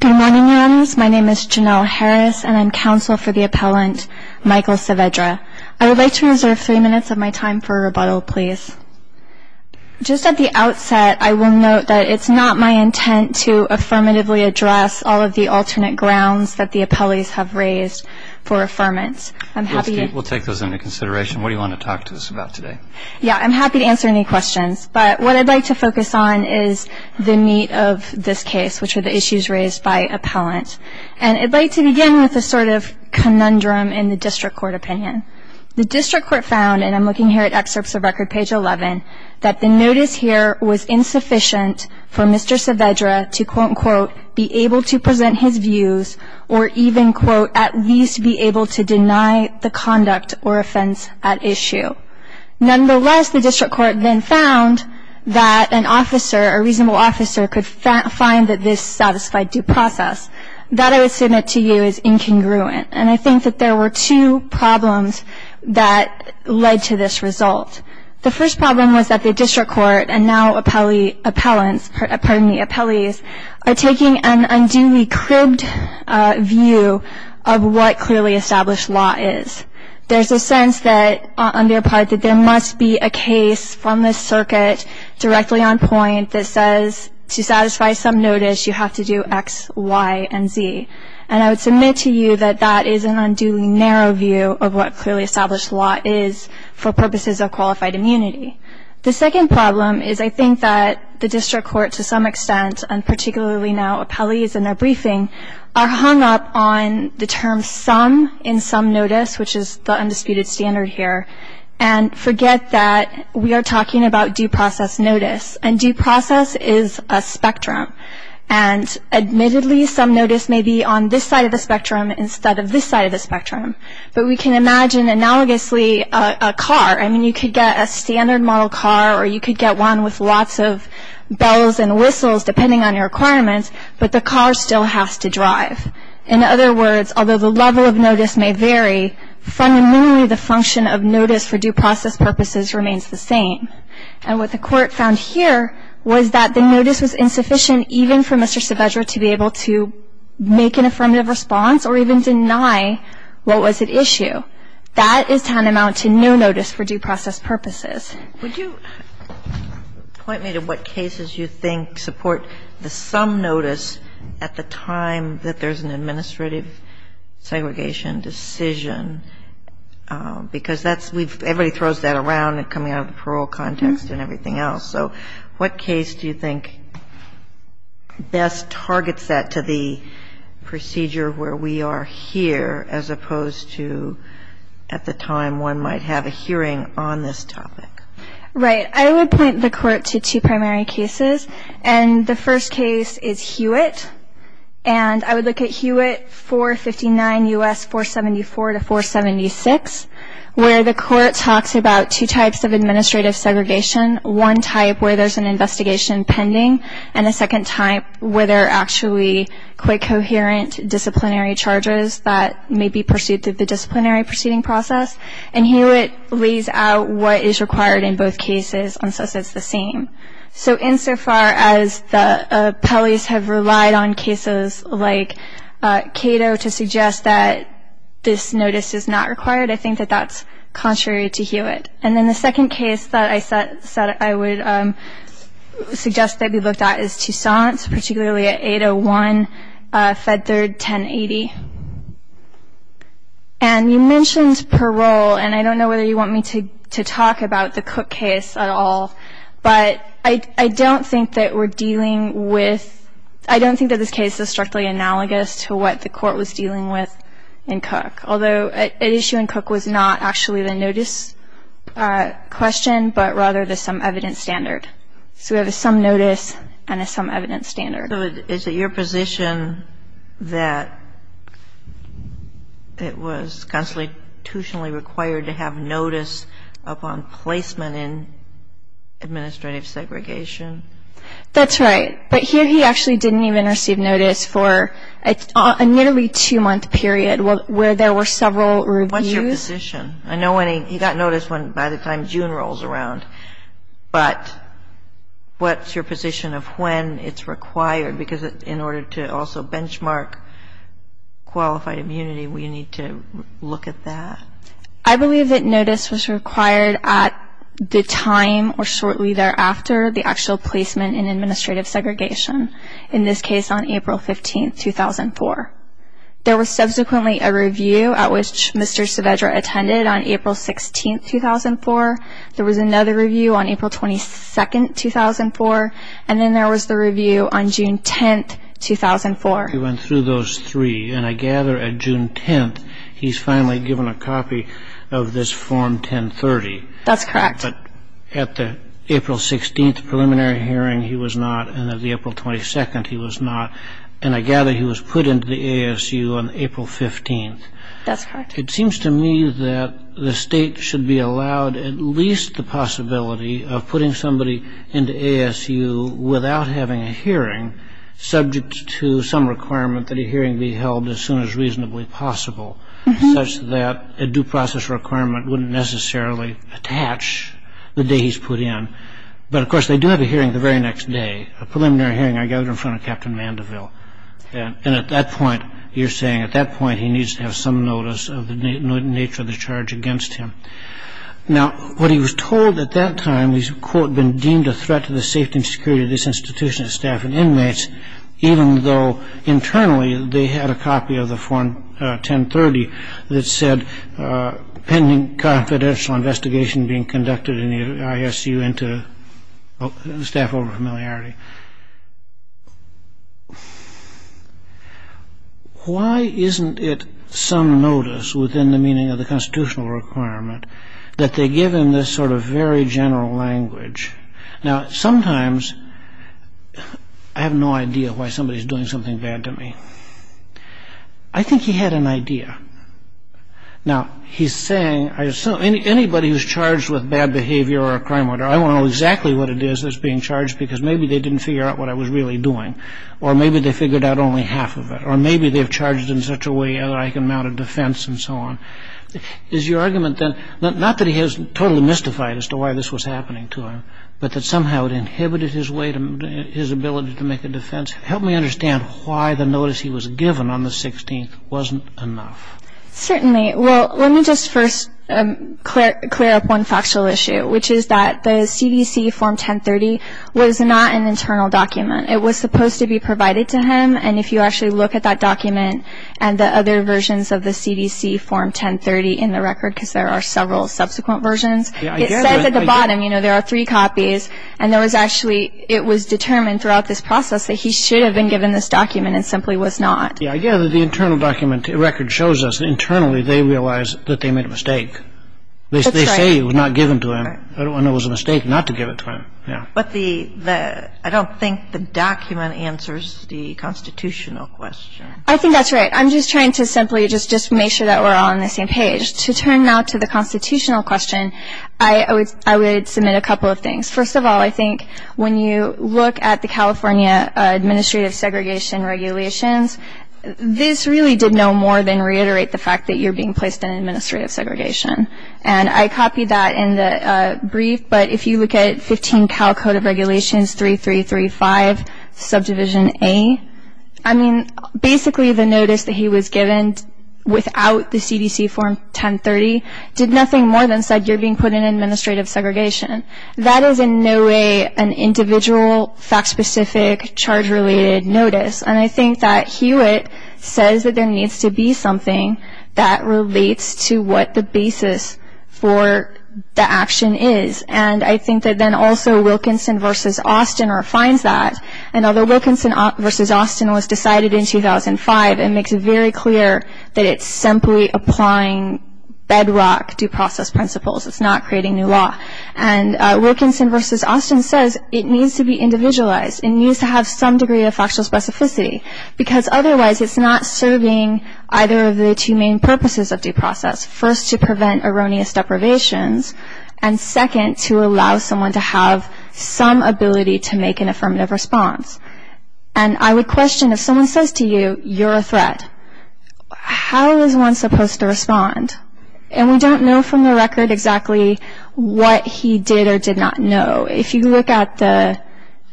Good morning, Your Honors. My name is Janelle Harris, and I'm counsel for the appellant Michael Saavedra. I would like to reserve three minutes of my time for a rebuttal, please. Just at the outset, I will note that it's not my intent to affirmatively address all of the alternate grounds that the appellees have raised for affirmance. We'll take those into consideration. What do you want to talk to us about today? Yeah, I'm happy to answer any questions, but what I'd like to focus on is the meat of this case, which are the issues raised by appellant. And I'd like to begin with a sort of conundrum in the district court opinion. The district court found, and I'm looking here at excerpts of Record Page 11, that the notice here was insufficient for Mr. Saavedra to, quote-unquote, be able to present his views or even, quote, at least be able to deny the conduct or offense at issue. Nonetheless, the district court then found that an officer, a reasonable officer, could find that this satisfied due process. That, I would submit to you, is incongruent. And I think that there were two problems that led to this result. The first problem was that the district court and now appellants, pardon me, appellees, are taking an unduly cribbed view of what clearly established law is. There's a sense that, on their part, that there must be a case from this circuit directly on point that says, to satisfy some notice, you have to do X, Y, and Z. And I would submit to you that that is an unduly narrow view of what clearly established law is for purposes of qualified immunity. The second problem is I think that the district court, to some extent, and particularly now appellees in their briefing, are hung up on the term some in some notice, which is the undisputed standard here, and forget that we are talking about due process notice. And due process is a spectrum. And admittedly, some notice may be on this side of the spectrum instead of this side of the spectrum. But we can imagine analogously a car. I mean, you could get a standard model car or you could get one with lots of bells and whistles, depending on your requirements, but the car still has to drive. In other words, although the level of notice may vary, fundamentally the function of notice for due process purposes remains the same. And what the Court found here was that the notice was insufficient even for Mr. Saavedra to be able to make an affirmative response or even deny what was at issue. That is tantamount to no notice for due process purposes. Kagan. Yes. Would you point me to what cases you think support the some notice at the time that there's an administrative segregation decision? Because that's we've – everybody throws that around coming out of the parole context and everything else. So what case do you think best targets that to the procedure where we are here as opposed to at the time one might have a hearing on this topic? Right. I would point the Court to two primary cases. And the first case is Hewitt. And I would look at Hewitt 459 U.S. 474 to 476, where the Court talks about two types of administrative segregation, one type where there's an investigation pending and a second type where there are actually quite coherent disciplinary charges that may be pursued through the disciplinary proceeding process. And Hewitt lays out what is required in both cases and says it's the same. So insofar as the appellees have relied on cases like Cato to suggest that this notice is not required, I think that that's contrary to Hewitt. And then the second case that I would suggest that we looked at is Toussaint, particularly at 801 Fed Third 1080. And you mentioned parole, and I don't know whether you want me to talk about the Cook case at all, but I don't think that we're dealing with ‑‑ I don't think that this case is directly analogous to what the Court was dealing with in Cook, although an issue in Cook was not actually the notice question, but rather the some evidence standard. So we have a some notice and a some evidence standard. So is it your position that it was constitutionally required to have notice upon placement in administrative segregation? That's right. But here he actually didn't even receive notice for a nearly two‑month period where there were several reviews. What's your position? I know he got notice by the time June rolls around, but what's your position of when it's required? Because in order to also benchmark qualified immunity, we need to look at that. I believe that notice was required at the time or shortly thereafter the actual placement in administrative segregation, in this case on April 15, 2004. There was subsequently a review at which Mr. Saavedra attended on April 16, 2004. There was another review on April 22, 2004, and then there was the review on June 10, 2004. He went through those three, and I gather at June 10th he's finally given a copy of this Form 1030. That's correct. But at the April 16th preliminary hearing he was not, and at the April 22nd he was not, and I gather he was put into the ASU on April 15th. That's correct. It seems to me that the state should be allowed at least the possibility of putting somebody into ASU without having a hearing subject to some requirement that a hearing be held as soon as reasonably possible such that a due process requirement wouldn't necessarily attach the day he's put in. But, of course, they do have a hearing the very next day, a preliminary hearing I gather in front of Captain Mandeville, and at that point you're saying at that point he needs to have some notice of the nature of the charge against him. Now, what he was told at that time he's, quote, been deemed a threat to the safety and security of this institution's staff and inmates, even though internally they had a copy of the Form 1030 that said pending confidential investigation being conducted in the ASU into staff over familiarity. Why isn't it some notice within the meaning of the constitutional requirement that they give him this sort of very general language? Now, sometimes I have no idea why somebody's doing something bad to me. I think he had an idea. Now, he's saying anybody who's charged with bad behavior or a crime order, I want to know exactly what it is that's being charged because maybe they didn't figure out what I was really doing, or maybe they figured out only half of it, or maybe they've charged in such a way that I can mount a defense and so on. Is your argument then not that he has totally mystified as to why this was happening to him, but that somehow it inhibited his ability to make a defense? Help me understand why the notice he was given on the 16th wasn't enough. Certainly. Well, let me just first clear up one factual issue, which is that the CDC Form 1030 was not an internal document. It was supposed to be provided to him, and if you actually look at that document and the other versions of the CDC Form 1030 in the record, because there are several subsequent versions, it says at the bottom, you know, there are three copies, and there was actually, it was determined throughout this process that he should have been given this document and simply was not. Yeah, I gather the internal document record shows us that internally they realize that they made a mistake. That's right. They say it was not given to him, and it was a mistake not to give it to him. But the, I don't think the document answers the constitutional question. I think that's right. I'm just trying to simply just make sure that we're all on the same page. To turn now to the constitutional question, I would submit a couple of things. First of all, I think when you look at the California administrative segregation regulations, this really did no more than reiterate the fact that you're being placed in administrative segregation. And I copied that in the brief, but if you look at 15 Cal Code of Regulations 3335, subdivision A, I mean, basically the notice that he was given without the CDC Form 1030 did nothing more than said you're being put in administrative segregation. That is in no way an individual, fact-specific, charge-related notice. And I think that Hewitt says that there needs to be something that relates to what the basis for the action is. And I think that then also Wilkinson v. Austin refines that. And although Wilkinson v. Austin was decided in 2005, it makes it very clear that it's simply applying bedrock due process principles. It's not creating new law. And Wilkinson v. Austin says it needs to be individualized. It needs to have some degree of factual specificity, because otherwise it's not serving either of the two main purposes of due process. First, to prevent erroneous deprivations, and second, to allow someone to have some ability to make an affirmative response. And I would question if someone says to you, you're a threat, how is one supposed to respond? And we don't know from the record exactly what he did or did not know. If you look at the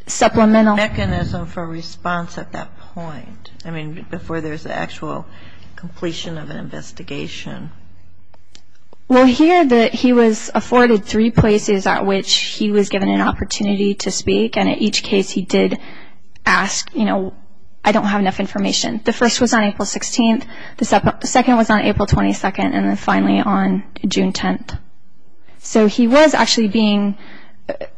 supplemental mechanism for response at that point, I mean before there's an actual completion of an investigation. We'll hear that he was afforded three places at which he was given an opportunity to speak, and at each case he did ask, you know, I don't have enough information. The first was on April 16th, the second was on April 22nd, and then finally on June 10th. So he was actually being,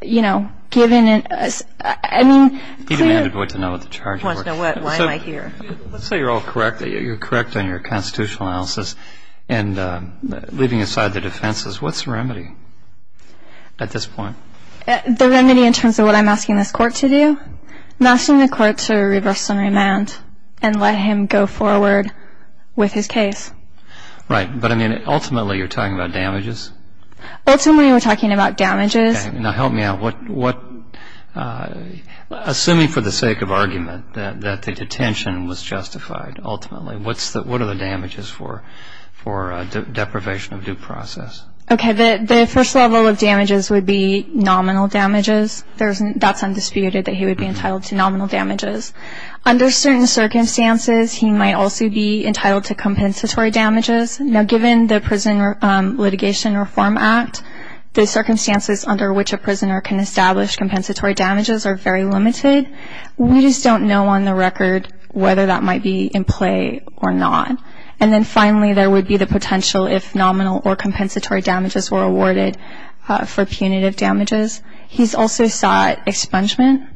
you know, given an, I mean. He demanded what to know at the charge court. He wants to know why am I here. Let's say you're all correct, you're correct on your constitutional analysis, and leaving aside the defenses, what's the remedy at this point? The remedy in terms of what I'm asking this court to do? Asking the court to reverse some remand and let him go forward with his case. Right. But, I mean, ultimately you're talking about damages? Ultimately we're talking about damages. Okay. Now help me out. Assuming for the sake of argument that the detention was justified ultimately, what are the damages for deprivation of due process? Okay. The first level of damages would be nominal damages. That's undisputed that he would be entitled to nominal damages. Under certain circumstances he might also be entitled to compensatory damages. Now given the Prison Litigation Reform Act, the circumstances under which a prisoner can establish compensatory damages are very limited. We just don't know on the record whether that might be in play or not. And then finally there would be the potential if nominal or compensatory damages were awarded for punitive damages. He's also sought expungement,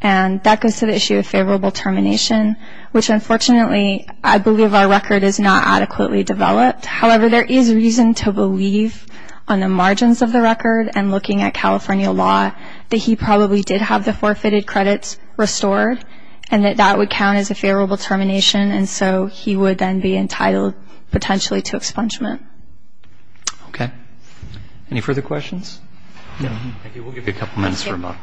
and that goes to the issue of favorable termination, which unfortunately I believe our record is not adequately developed. However, there is reason to believe on the margins of the record and looking at California law that he probably did have the forfeited credits restored and that that would count as a favorable termination, and so he would then be entitled potentially to expungement. Okay. Any further questions? Thank you. We'll give you a couple minutes for a moment.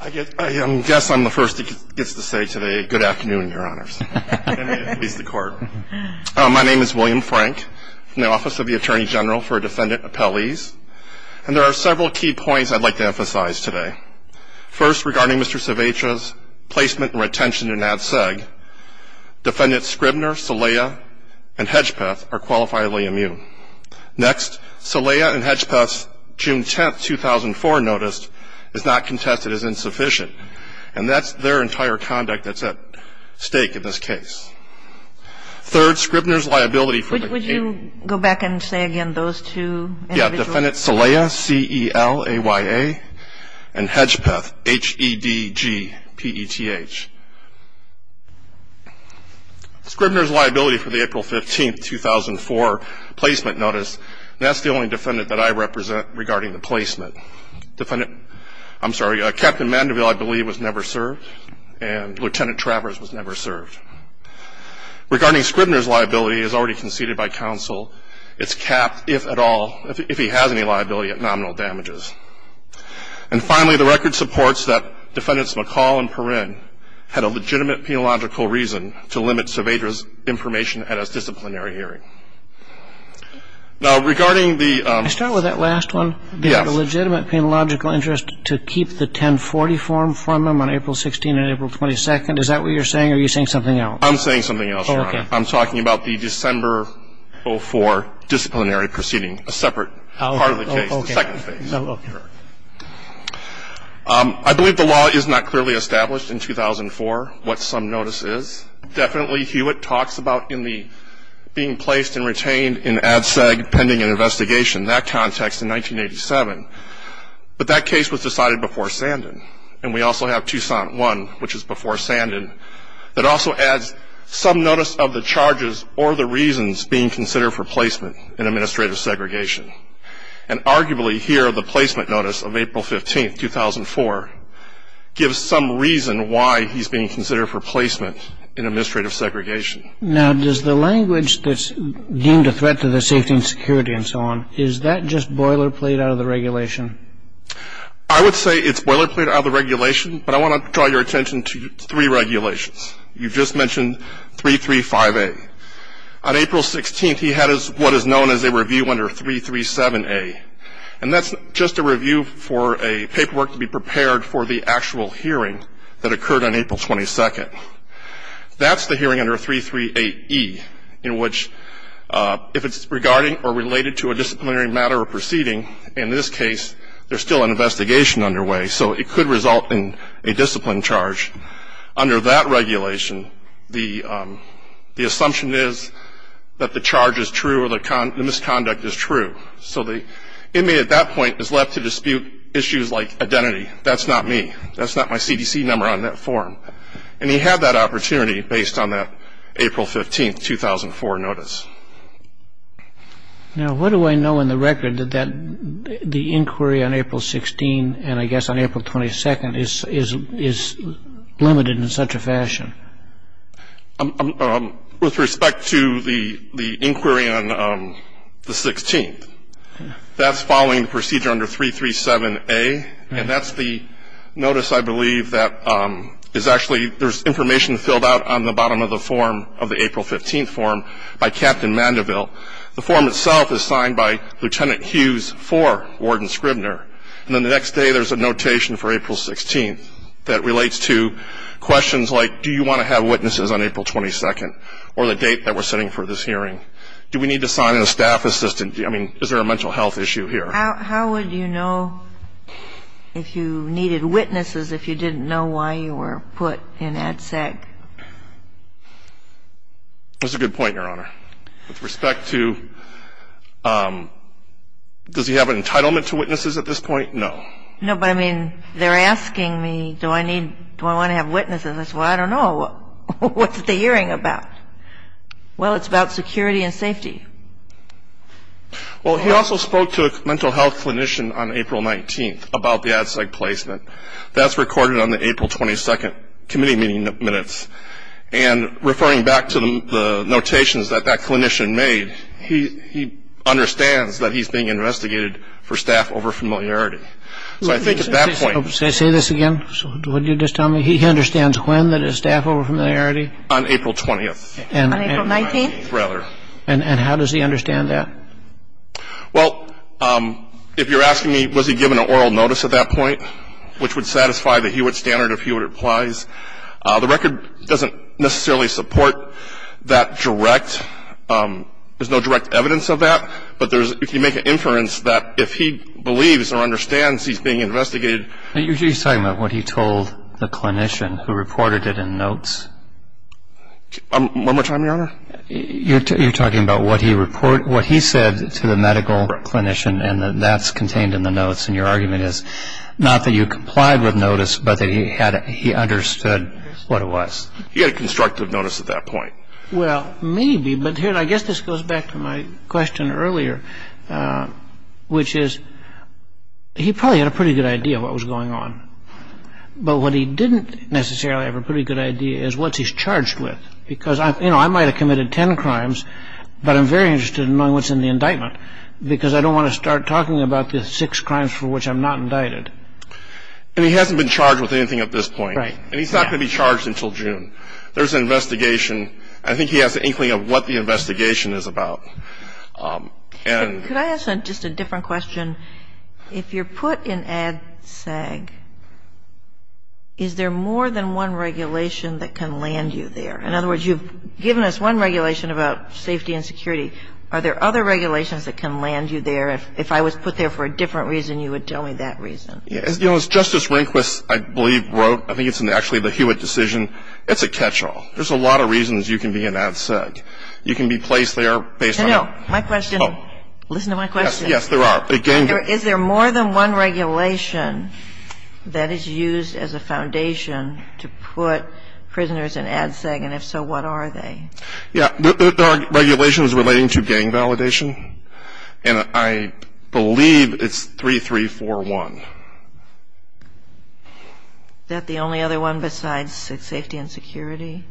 Thank you. I guess I'm the first that gets to say today good afternoon, Your Honors. And it is the Court. My name is William Frank from the Office of the Attorney General for Defendant Appellees, and there are several key points I'd like to emphasize today. First, regarding Mr. Civetra's placement and retention in NADSEG, Defendant Scribner, Salaya, and Hedgepeth are qualifiably immune. Next, Salaya and Hedgepeth's June 10, 2004 notice is not contested as insufficient, and that's their entire conduct that's at stake in this case. Third, Scribner's liability for the April 15, 2004 placement notice, and that's the only defendant that I represent regarding the placement. I'm sorry, Captain Mandeville, I believe, was never served, and Lieutenant Travers was never served. Regarding Scribner's liability, as already conceded by counsel, it's capped if at all, if he has any liability, at nominal damages. And finally, the record supports that Defendants McCall and Perrin had a legitimate penological reason to limit Civetra's information at a disciplinary hearing. Now, regarding the ‑‑ Can I start with that last one? Yes. They had a legitimate penological interest to keep the 1040 form from them on April 16 and April 22. Is that what you're saying, or are you saying something else? I'm saying something else, Your Honor. Okay. I'm talking about the December 04 disciplinary proceeding, a separate part of the case, the second phase. Okay. I believe the law is not clearly established in 2004, what some notice is. Definitely, Hewitt talks about being placed and retained in ADSEG pending an investigation, that context, in 1987. But that case was decided before Sandin. And we also have Tucson 1, which is before Sandin, that also adds some notice of the charges or the reasons being considered for placement in administrative segregation. And arguably here, the placement notice of April 15, 2004, gives some reason why he's being considered for placement in administrative segregation. Now, does the language that's deemed a threat to the safety and security and so on, is that just boilerplate out of the regulation? I would say it's boilerplate out of the regulation, but I want to draw your attention to three regulations. You just mentioned 335A. On April 16th, he had what is known as a review under 337A. And that's just a review for a paperwork to be prepared for the actual hearing that occurred on April 22nd. That's the hearing under 338E, in which, if it's regarding or related to a disciplinary matter or proceeding, in this case, there's still an investigation underway, so it could result in a discipline charge. Under that regulation, the assumption is that the charge is true or the misconduct is true. So the inmate at that point is left to dispute issues like identity. That's not me. That's not my CDC number on that form. And he had that opportunity based on that April 15, 2004, notice. Now, what do I know in the record that the inquiry on April 16th and I guess on April 22nd is limited in such a fashion? With respect to the inquiry on the 16th, that's following the procedure under 337A. And that's the notice, I believe, that is actually There's information filled out on the bottom of the form of the April 15th form by Captain Mandeville. The form itself is signed by Lieutenant Hughes for Warden Scribner. And then the next day there's a notation for April 16th that relates to questions like, do you want to have witnesses on April 22nd or the date that we're setting for this hearing? Do we need to sign a staff assistant? I mean, is there a mental health issue here? How would you know if you needed witnesses if you didn't know why you were put in ADSEC? That's a good point, Your Honor. With respect to does he have an entitlement to witnesses at this point? No. No, but I mean, they're asking me, do I need, do I want to have witnesses? Well, I don't know. What's the hearing about? Well, it's about security and safety. Well, he also spoke to a mental health clinician on April 19th about the ADSEC placement. That's recorded on the April 22nd committee meeting minutes. And referring back to the notations that that clinician made, he understands that he's being investigated for staff over-familiarity. So I think at that point Say this again. Would you just tell me, he understands when that is staff over-familiarity? On April 20th. On April 19th? Rather. And how does he understand that? Well, if you're asking me was he given an oral notice at that point, which would satisfy the Hewitt standard if Hewitt applies, the record doesn't necessarily support that direct, there's no direct evidence of that, but if you make an inference that if he believes or understands he's being investigated You're talking about what he told the clinician who reported it in notes? One more time, Your Honor? You're talking about what he said to the medical clinician and that that's contained in the notes, and your argument is not that you complied with notice, but that he understood what it was. He had a constructive notice at that point. Well, maybe, but I guess this goes back to my question earlier, which is he probably had a pretty good idea of what was going on. But what he didn't necessarily have a pretty good idea is what he's charged with. Because, you know, I might have committed ten crimes, but I'm very interested in knowing what's in the indictment because I don't want to start talking about the six crimes for which I'm not indicted. And he hasn't been charged with anything at this point. Right. And he's not going to be charged until June. There's an investigation. I think he has an inkling of what the investigation is about. Could I ask just a different question? If you're put in ADSAG, is there more than one regulation that can land you there? In other words, you've given us one regulation about safety and security. Are there other regulations that can land you there? If I was put there for a different reason, you would tell me that reason. You know, as Justice Rehnquist, I believe, wrote, I think it's actually the Hewitt decision, it's a catch-all. There's a lot of reasons you can be in ADSAG. You can be placed there based on. I know. My question. Listen to my question. Yes, there are. Is there more than one regulation that is used as a foundation to put prisoners in ADSAG? And if so, what are they? Yeah. The regulation is relating to gang validation. And I believe it's 3341. Is that the only other one besides safety and security?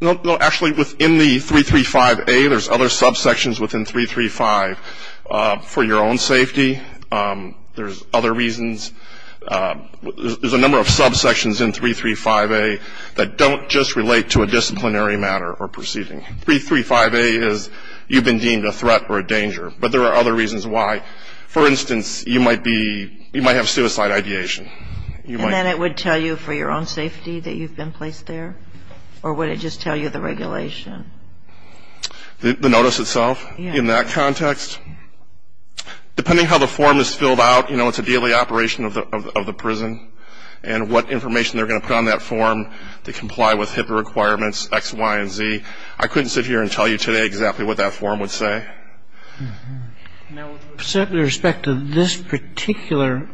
No, actually, within the 335A, there's other subsections within 335. For your own safety, there's other reasons. There's a number of subsections in 335A that don't just relate to a disciplinary matter or proceeding. 335A is you've been deemed a threat or a danger. But there are other reasons why. For instance, you might be, you might have suicide ideation. And then it would tell you for your own safety that you've been placed there? Or would it just tell you the regulation? The notice itself in that context? Yeah. Depending how the form is filled out, you know, it's a daily operation of the prison. And what information they're going to put on that form to comply with HIPAA requirements, X, Y, and Z. I couldn't sit here and tell you today exactly what that form would say. Now, with respect to this particular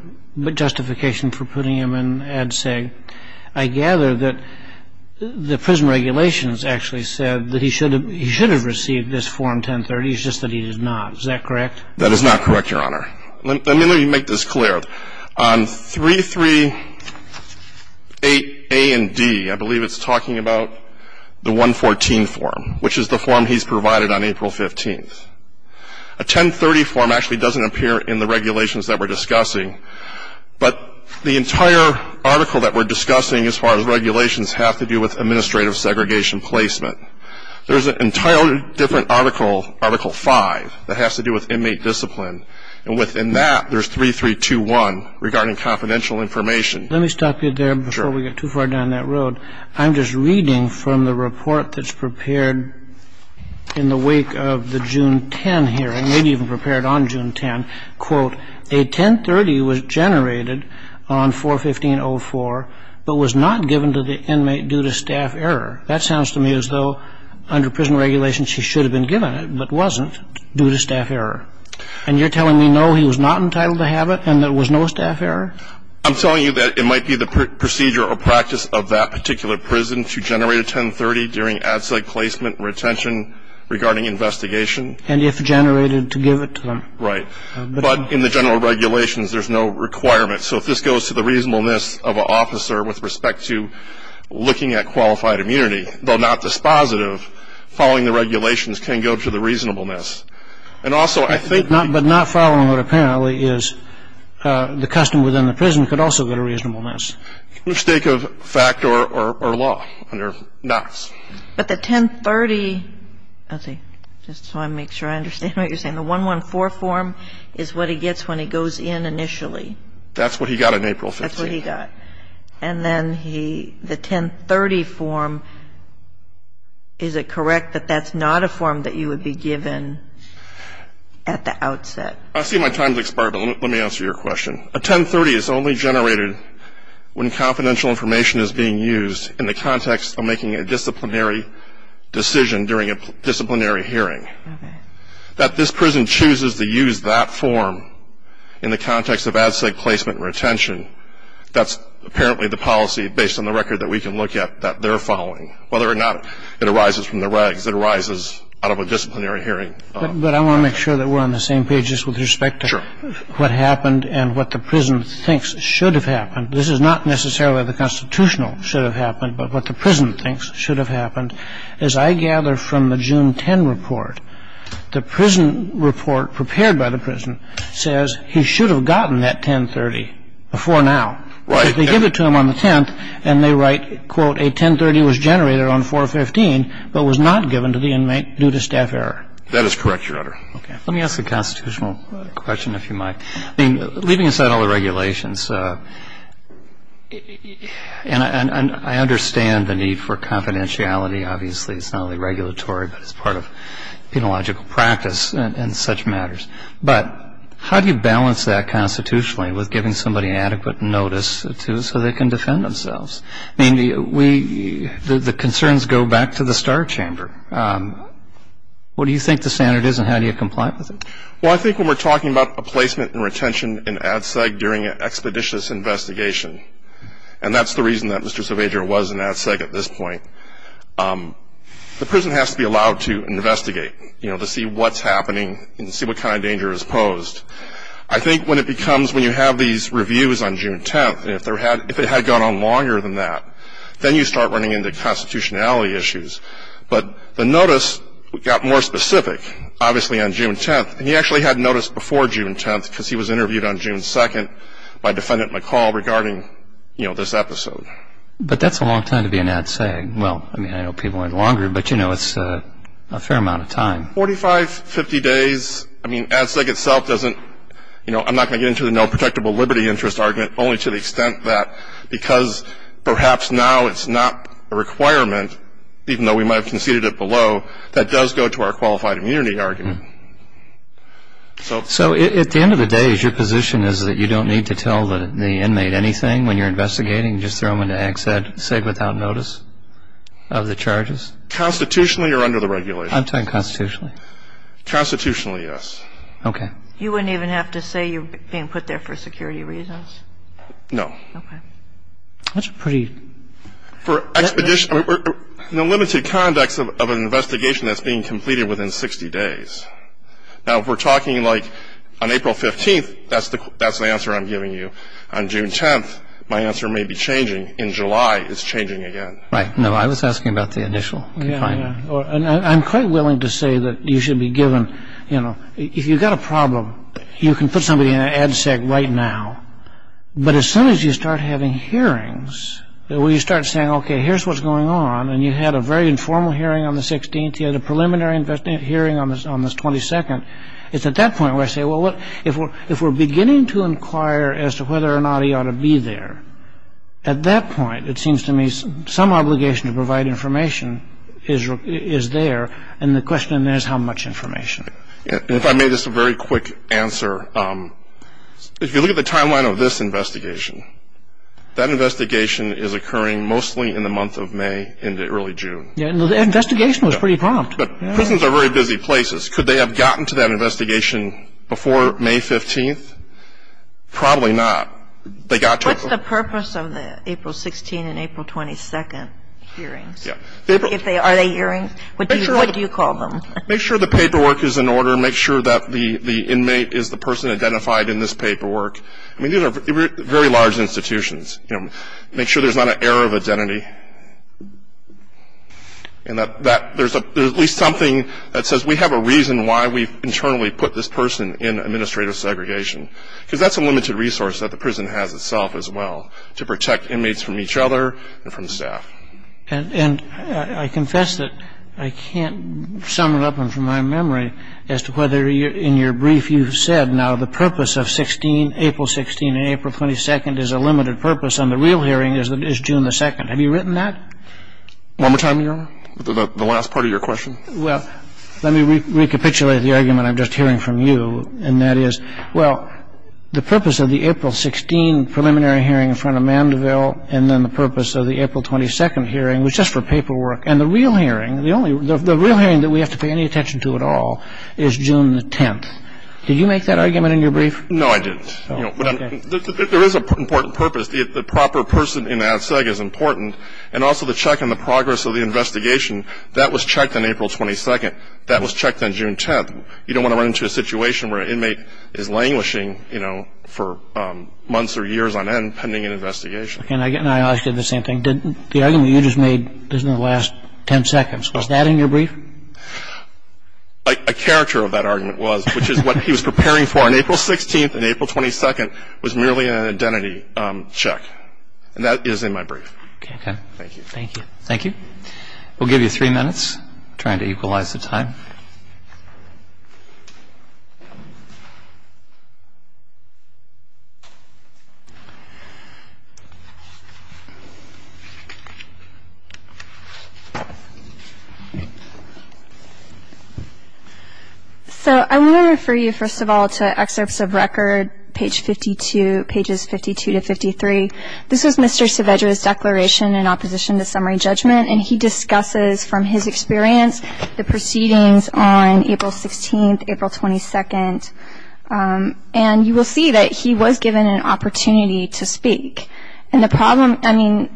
justification for putting him in ADSEG, I gather that the prison regulations actually said that he should have received this form 1030. It's just that he did not. Is that correct? That is not correct, Your Honor. Let me make this clear. On 338A and D, I believe it's talking about the 114 form, which is the form he's provided on April 15th. A 1030 form actually doesn't appear in the regulations that we're discussing. But the entire article that we're discussing as far as regulations have to do with administrative segregation placement. There's an entirely different article, Article 5, that has to do with inmate discipline. And within that, there's 3321 regarding confidential information. Let me stop you there before we get too far down that road. I'm just reading from the report that's prepared in the wake of the June 10 hearing, maybe even prepared on June 10. Quote, a 1030 was generated on 415.04 but was not given to the inmate due to staff error. That sounds to me as though under prison regulations, he should have been given it but wasn't due to staff error. And you're telling me, no, he was not entitled to have it and there was no staff error? I'm telling you that it might be the procedure or practice of that particular prison to generate a 1030 during ad sec placement and retention regarding investigation. And if generated, to give it to them. Right. But in the general regulations, there's no requirement. So if this goes to the reasonableness of an officer with respect to looking at qualified immunity, though not dispositive, following the regulations can go to the reasonableness. But not following what apparently is the custom within the prison could also go to reasonableness. Mistake of fact or law under Knox. But the 1030, let's see, just so I make sure I understand what you're saying. The 114 form is what he gets when he goes in initially. That's what he got on April 15th. That's what he got. And then the 1030 form, is it correct that that's not a form that you would be given at the outset? I see my time has expired, but let me answer your question. A 1030 is only generated when confidential information is being used in the context of making a disciplinary decision during a disciplinary hearing. That this prison chooses to use that form in the context of ad sec placement and retention, that's apparently the policy based on the record that we can look at that they're following. Whether or not it arises from the regs, it arises out of a disciplinary hearing. But I want to make sure that we're on the same page just with respect to what happened and what the prison thinks should have happened. This is not necessarily the constitutional should have happened, but what the prison thinks should have happened. As I gather from the June 10 report, the prison report prepared by the prison says he should have gotten that 1030 before now. Right. But they give it to him on the 10th, and they write, quote, a 1030 was generated on 415, but was not given to the inmate due to staff error. That is correct, Your Honor. Okay. Let me ask a constitutional question, if you might. I mean, leaving aside all the regulations, and I understand the need for confidentiality. Obviously, it's not only regulatory, but it's part of penological practice in such matters. But how do you balance that constitutionally with giving somebody adequate notice so they can defend themselves? I mean, the concerns go back to the Star Chamber. What do you think the standard is, and how do you comply with it? Well, I think when we're talking about a placement and retention in ADSEG during an expeditious investigation, and that's the reason that Mr. Saavedra was in ADSEG at this point, the prison has to be allowed to investigate, you know, to see what's happening and see what kind of danger is posed. I think when it becomes, when you have these reviews on June 10th, if it had gone on longer than that, then you start running into constitutionality issues. But the notice got more specific, obviously, on June 10th, and he actually had notice before June 10th because he was interviewed on June 2nd by Defendant McCall regarding, you know, this episode. But that's a long time to be in ADSEG. Well, I mean, I know people went longer, but, you know, it's a fair amount of time. Forty-five, fifty days, I mean, ADSEG itself doesn't, you know, I'm not going to get into the no protectable liberty interest argument, only to the extent that because perhaps now it's not a requirement, even though we might have conceded it below, that does go to our qualified immunity argument. So at the end of the day, is your position is that you don't need to tell the inmate anything when you're investigating, just throw them into ADSEG without notice of the charges? Constitutionally or under the regulations? I'm talking constitutionally. Constitutionally, yes. Okay. You wouldn't even have to say you're being put there for security reasons? No. Okay. That's a pretty... For expedition, no limited context of an investigation that's being completed within 60 days. Now, if we're talking, like, on April 15th, that's the answer I'm giving you. On June 10th, my answer may be changing. In July, it's changing again. Right. No, I was asking about the initial confinement. I'm quite willing to say that you should be given, you know, if you've got a problem, you can put somebody in ADSEG right now. But as soon as you start having hearings, where you start saying, okay, here's what's going on, and you had a very informal hearing on the 16th, you had a preliminary hearing on the 22nd, it's at that point where I say, well, if we're beginning to inquire as to whether or not he ought to be there, at that point, it seems to me, some obligation to provide information is there, and the question is how much information. If I may, just a very quick answer. If you look at the timeline of this investigation, that investigation is occurring mostly in the month of May into early June. Yeah, and the investigation was pretty prompt. But prisons are very busy places. Could they have gotten to that investigation before May 15th? Probably not. What's the purpose of the April 16th and April 22nd hearings? Are they hearings? What do you call them? Make sure the paperwork is in order. Make sure that the inmate is the person identified in this paperwork. I mean, these are very large institutions. Make sure there's not an error of identity. And that there's at least something that says we have a reason why we've internally put this person in administrative segregation. Because that's a limited resource that the prison has itself as well, to protect inmates from each other and from staff. And I confess that I can't sum it up from my memory as to whether in your brief you've said, now the purpose of April 16th and April 22nd is a limited purpose, and the real hearing is June 2nd. Have you written that? One more time, Your Honor? The last part of your question? Well, let me recapitulate the argument I'm just hearing from you, and that is, well, the purpose of the April 16 preliminary hearing in front of Mandeville and then the purpose of the April 22nd hearing was just for paperwork. And the real hearing, the real hearing that we have to pay any attention to at all is June 10th. Did you make that argument in your brief? No, I didn't. But there is an important purpose. The proper person in that segment is important, and also the check on the progress of the investigation, that was checked on April 22nd. That was checked on June 10th. We would have to check on it for months or years. We don't want to run into a situation where an inmate is languishing, you know, for months or years on end pending an investigation. Okay. And I asked you the same thing. The argument you just made is in the last 10 seconds. Was that in your brief? A character of that argument was, which is what he was preparing for on April 16th and April 22nd, was merely an identity check. And that is in my brief. Okay. Thank you. We'll give you three minutes. Trying to equalize the time. So I want to refer you, first of all, to excerpts of record, page 52, pages 52 to 53. This was Mr. Saavedra's declaration in opposition to summary judgment. And he discusses from his experience the proceedings on April 16th, April 22nd. And you will see that he was given an opportunity to speak. And the problem, I mean,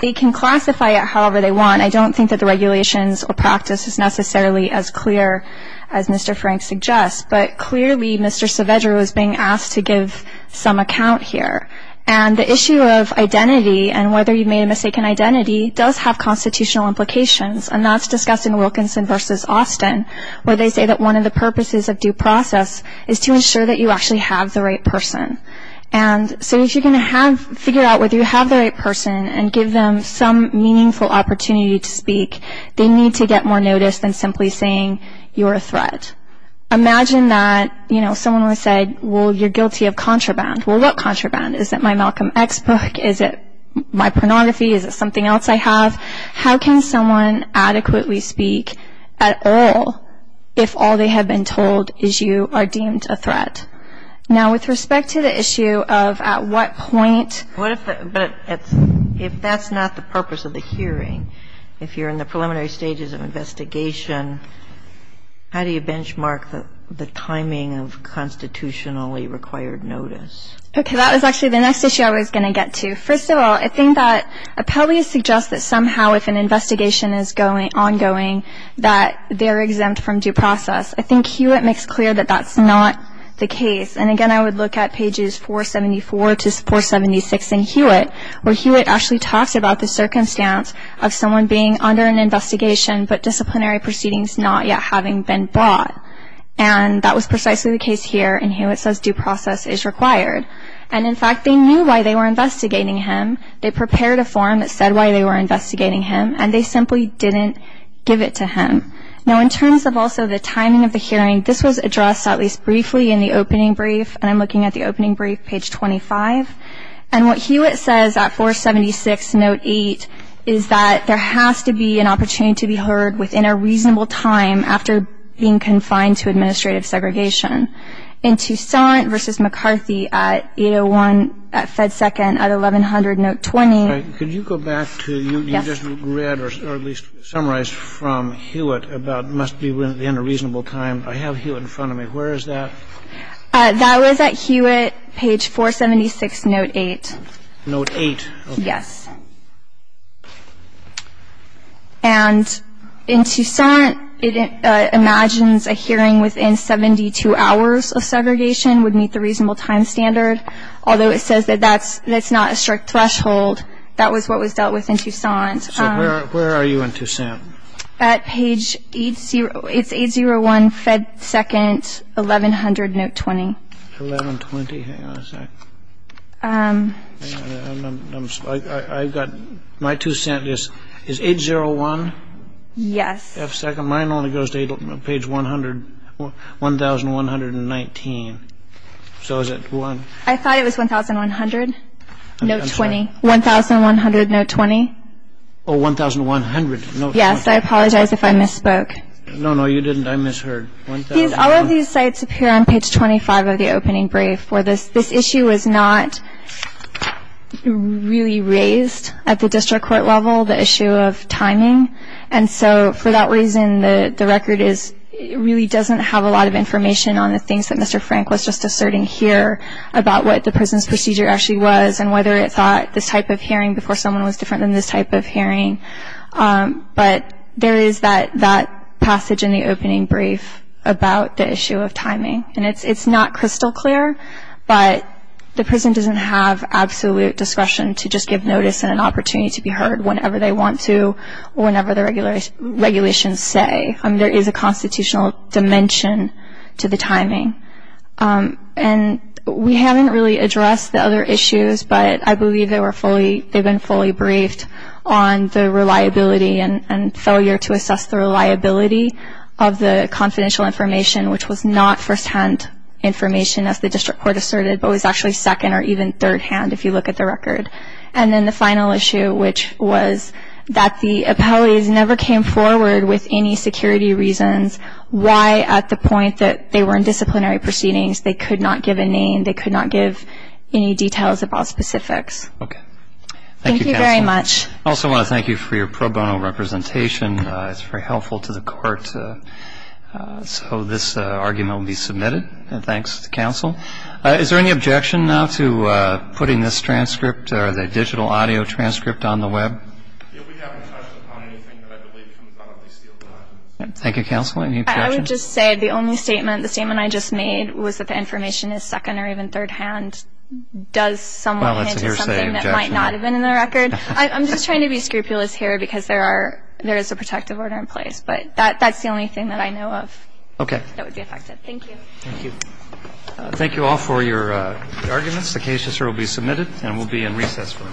they can classify it however they want. I don't think that the regulations or practice is necessarily as clear as Mr. Frank suggests. But clearly Mr. Saavedra was being asked to give some account here. And the issue of identity and whether you made a mistaken identity does have constitutional implications. And that's discussed in Wilkinson v. Austin, where they say that one of the purposes of due process is to ensure that you actually have the right person. And so if you're going to figure out whether you have the right person and give them some meaningful opportunity to speak, they need to get more notice than simply saying you're a threat. Imagine that, you know, someone would say, well, you're guilty of contraband. Well, what contraband? Is it my Malcolm X book? Is it my pornography? Is it something else I have? How can someone adequately speak at all if all they have been told is you are deemed a threat? Now, with respect to the issue of at what point ---- But if that's not the purpose of the hearing, if you're in the preliminary stages of investigation, how do you benchmark the timing of constitutionally required notice? Okay. That was actually the next issue I was going to get to. First of all, I think that appellees suggest that somehow if an investigation is ongoing that they're exempt from due process. I think Hewitt makes clear that that's not the case. And, again, I would look at pages 474 to 476 in Hewitt, where Hewitt actually talks about the circumstance of someone being under an investigation but disciplinary proceedings not yet having been brought. And that was precisely the case here, and Hewitt says due process is required. And, in fact, they knew why they were investigating him. They prepared a form that said why they were investigating him, and they simply didn't give it to him. Now, in terms of also the timing of the hearing, this was addressed at least briefly in the opening brief, and I'm looking at the opening brief, page 25. And what Hewitt says at 476, note 8, is that there has to be an opportunity to be heard within a reasonable time after being confined to administrative segregation. In Toussaint v. McCarthy at 801 at Fed Second at 1100, note 20. Could you go back to you just read or at least summarize from Hewitt about must be within a reasonable time? I have Hewitt in front of me. Where is that? That was at Hewitt, page 476, note 8. Note 8? And in Toussaint, it imagines a hearing within 72 hours of segregation would meet the reasonable time standard, although it says that that's not a strict threshold. That was what was dealt with in Toussaint. So where are you in Toussaint? At page 801, Fed Second, 1100, note 20. 1120? Hang on a sec. My Toussaint is 801? Yes. Mine only goes to page 1119. So is it one? I thought it was 1100, note 20. 1100, note 20. Oh, 1100, note 20. Yes, I apologize if I misspoke. No, no, you didn't. I misheard. All of these sites appear on page 25 of the opening brief where this issue was not really raised at the district court level, the issue of timing. And so for that reason, the record really doesn't have a lot of information on the things that Mr. Frank was just asserting here about what the prison's procedure actually was and whether it thought this type of hearing before someone was different than this type of hearing. But there is that passage in the opening brief about the issue of timing. And it's not crystal clear, but the prison doesn't have absolute discretion to just give notice and an opportunity to be heard whenever they want to or whenever the regulations say. There is a constitutional dimension to the timing. And we haven't really addressed the other issues, but I believe they've been fully briefed on the reliability and failure to assess the reliability of the confidential information, which was not firsthand information, as the district court asserted, but was actually second or even thirdhand if you look at the record. And then the final issue, which was that the appellees never came forward with any security reasons why at the point that they were in disciplinary proceedings they could not give a name, they could not give any details of all specifics. Okay. Thank you very much. Thank you, Counsel. I also want to thank you for your pro bono representation. It's very helpful to the court. So this argument will be submitted. And thanks to the counsel. Is there any objection now to putting this transcript or the digital audio transcript on the Web? We haven't touched upon anything that I believe comes out of this deal. Thank you, Counsel. Any objections? I would just say the only statement, the statement I just made, was that the information is second or even thirdhand. Does someone hint at something that might not have been in the record? I'm just trying to be scrupulous here because there is a protective order in place. But that's the only thing that I know of that would be affected. Thank you. Thank you. Thank you all for your arguments. The case will be submitted, and we'll be in recess for one more. Thank you.